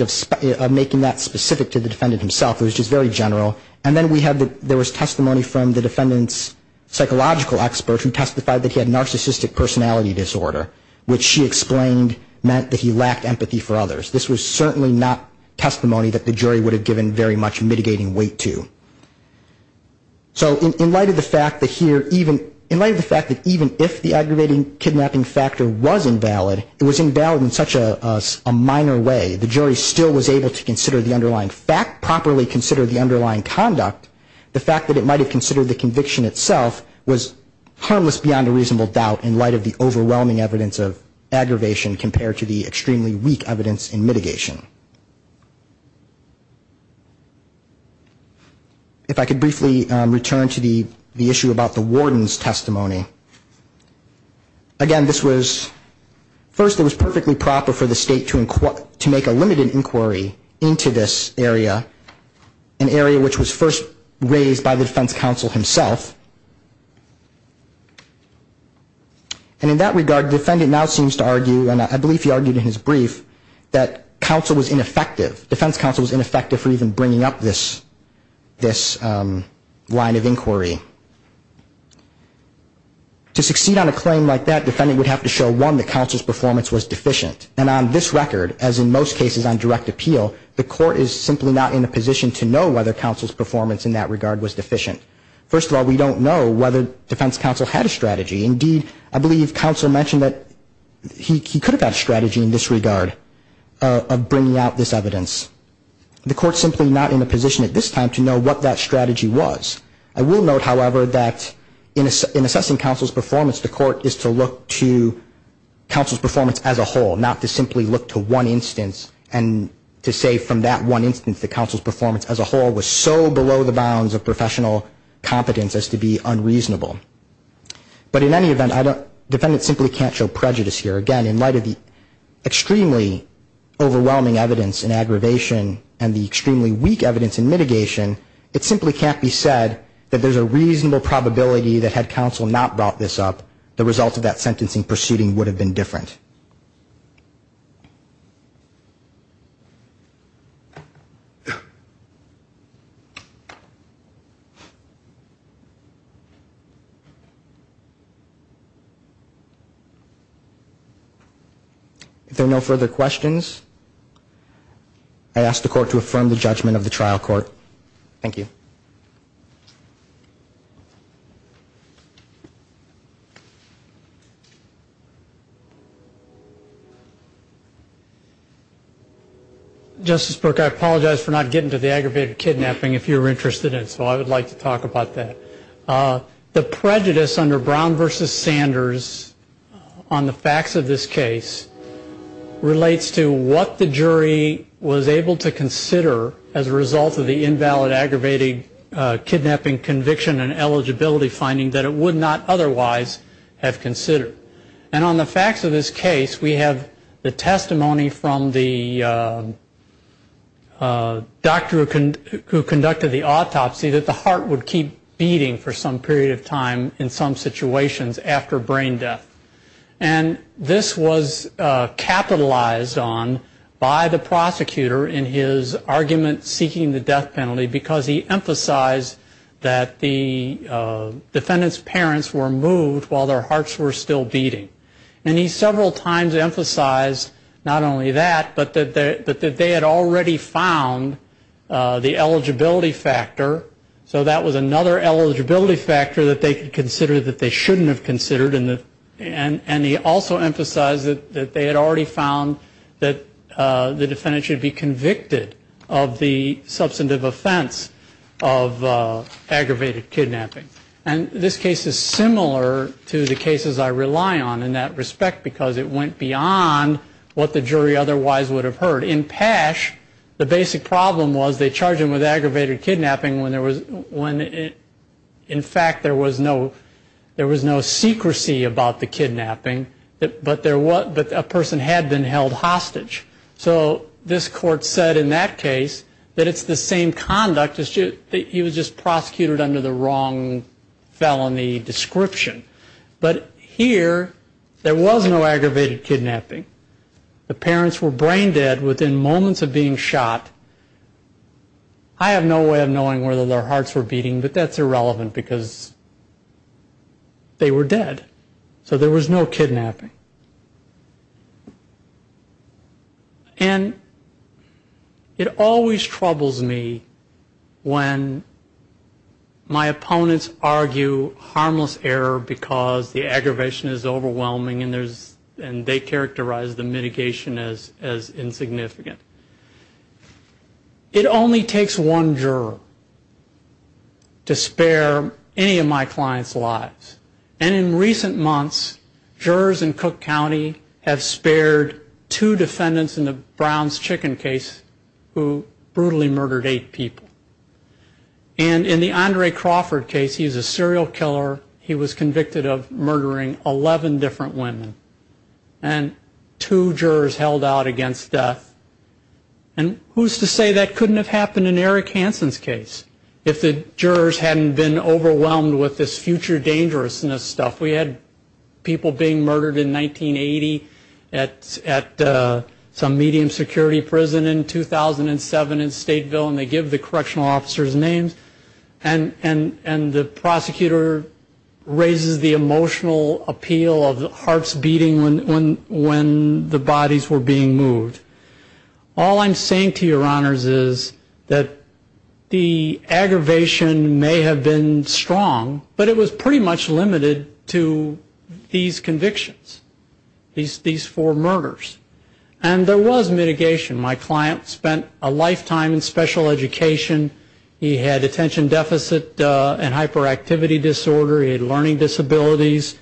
of making that specific to the defendant himself. It was just very general. And then there was testimony from the defendant's psychological expert who testified that he had narcissistic personality disorder, which she explained meant that he lacked empathy for others. This was certainly not testimony that the jury would have given very much mitigating weight to. So in light of the fact that even if the aggravating kidnapping factor was invalid, it was invalid in such a minor way. The jury still was able to properly consider the underlying conduct. The fact that it might have considered the conviction itself was harmless beyond a reasonable doubt in light of the overwhelming evidence of aggravation compared to the extremely weak evidence in mitigation. If I could briefly return to the issue about the warden's testimony. Again, this was, first it was perfectly proper for the state to make a limited inquiry into this area, an area which was first raised by the defense counsel himself. And in that regard, the defendant now seems to argue, and I believe he argued in his brief, that counsel was ineffective, defense counsel was ineffective for even bringing up this line of inquiry. To succeed on a claim like that, the defendant would have to show, one, that counsel's performance was deficient. And on this record, as in most cases on direct appeal, the court is simply not in a position to know whether counsel's performance in that regard was deficient. First of all, we don't know whether defense counsel had a strategy. Indeed, I believe counsel mentioned that he could have had a strategy in this regard of bringing out this evidence. The court's simply not in a position at this time to know what that strategy was. I will note, however, that in assessing counsel's performance, the court is to look to counsel's performance as a whole, not to simply look to one instance and to say from that one instance that counsel's performance as a whole was so below the bounds of professional competence as to be unreasonable. But in any event, defendants simply can't show prejudice here. Again, in light of the extremely overwhelming evidence in aggravation and the extremely weak evidence in mitigation, it simply can't be said that counsel's performance as a whole was deficient. It simply can't be said that there's a reasonable probability that had counsel not brought this up, the result of that sentencing proceeding would have been different. If there are no further questions, I ask the court to affirm the judgment of the trial court. Thank you. Justice Brooke, I apologize for not getting to the aggravated kidnapping if you're interested in it, so I would like to talk about that. The prejudice under Brown v. Sanders on the facts of this case relates to what the jury was able to consider as a result of the invalid aggravated kidnapping conviction and eligibility finding that it would not otherwise have considered. And on the facts of this case, we have the testimony from the doctor who conducted the autopsy that the heart would keep beating for some period of time in some situations after brain death. And this was capitalized on by the prosecutor in his argument seeking the death penalty because he emphasized that the defendant's parents were moved while their child was beating. And he several times emphasized not only that, but that they had already found the eligibility factor. So that was another eligibility factor that they could consider that they shouldn't have considered. And he also emphasized that they had already found that the defendant should be convicted of the substantive offense of aggravated kidnapping. And this case is similar to the cases I rely on in that respect because it went beyond what the jury otherwise would have heard. In Pash, the basic problem was they charged him with aggravated kidnapping when in fact there was no secrecy about the kidnapping, but a person had been held hostage. So this court said in that case that it's the same conduct, he was just prosecuted under the wrong felony description. But here there was no aggravated kidnapping. The parents were brain dead within moments of being shot. I have no way of knowing whether their hearts were beating, but that's irrelevant because they were dead. And it always troubles me when my opponents argue harmless error because the aggravation is overwhelming and they characterize the mitigation as insignificant. It only takes one juror to spare any of my clients' lives. And in recent months, jurors in Cook County have spared two defendants in the Browns Chicken case who brutally murdered eight people. And in the Andre Crawford case, he's a serial killer, he was convicted of murdering 11 different women. And two jurors held out against death. And who's to say that couldn't have happened in Eric Hansen's case if the jurors hadn't been overwhelmed with this future seriousness stuff. We had people being murdered in 1980 at some medium security prison in 2007 in Stateville, and they give the correctional officers names, and the prosecutor raises the emotional appeal of hearts beating when the bodies were being moved. All I'm saying to your honors is that the aggravation may have been strong, but it was pretty much limited. To these convictions, these four murders. And there was mitigation. My client spent a lifetime in special education. He had attention deficit and hyperactivity disorder. He had learning disabilities.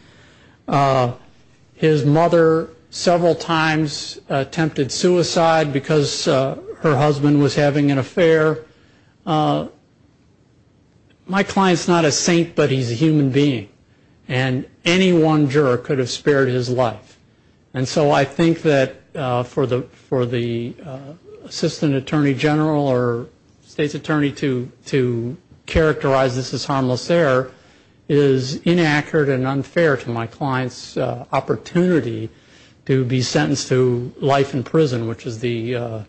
His mother several times attempted suicide because her husband was having an affair. My client's not a saint, but he's a human being. And any one juror could have spared his life. And so I think that for the assistant attorney general or state's attorney to characterize this as harmless error is inaccurate and unfair to my client's opportunity to be sentenced to life in prison, which is the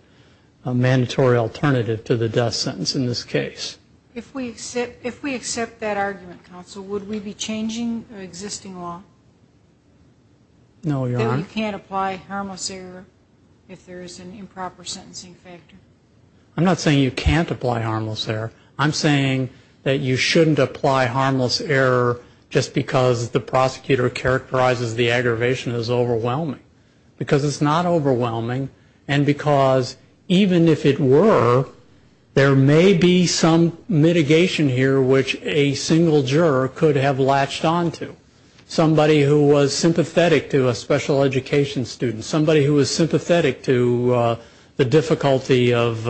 mandatory alternative to the death sentence in this case. If we accept that argument, counsel, would we be changing existing law? No, your honor. I'm not saying you can't apply harmless error. Because the prosecutor characterizes the aggravation as overwhelming. Because it's not overwhelming. And because even if it were, there may be some mitigation here which a single juror could have latched onto. Somebody who was sympathetic to a special education student. Somebody who was sympathetic to the difficulty of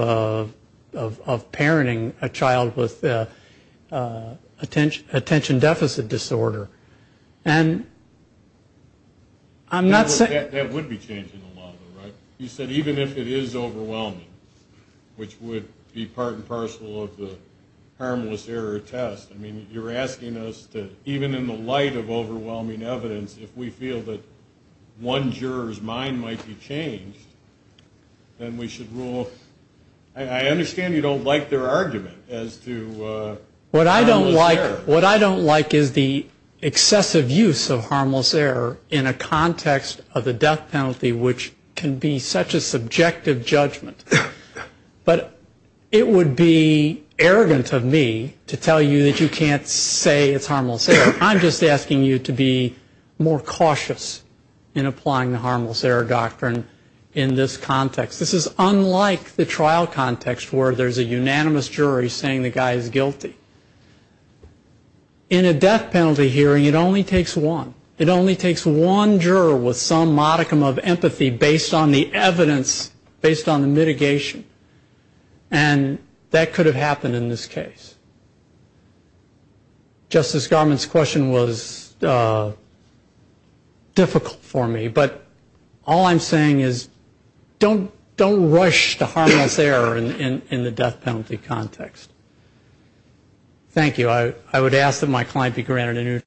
parenting a child with attention deficit disorder. And I'm not saying. That would be changing the law, though, right? You said even if it is overwhelming, which would be part and parcel of the harmless error test. I mean, you're asking us to, even in the light of overwhelming evidence, if we feel that one juror's mind might be changed, then we should rule. I understand you don't like their argument as to harmless error. What I don't like is the excessive use of harmless error in a context of the death penalty, which can be such a subjective judgment. But it would be arrogant of me to tell you that you can't say it's harmless error. I'm just asking you to be more cautious in applying the harmless error doctrine in this context. This is unlike the trial context where there's a unanimous jury saying the guy is guilty. In a death penalty hearing, it only takes one. It only takes one juror with some modicum of empathy based on the evidence, based on the mitigation. And that could have happened in this case. Justice Garment's question was difficult for me. But all I'm saying is don't rush the harmless error in the death penalty context. Thank you.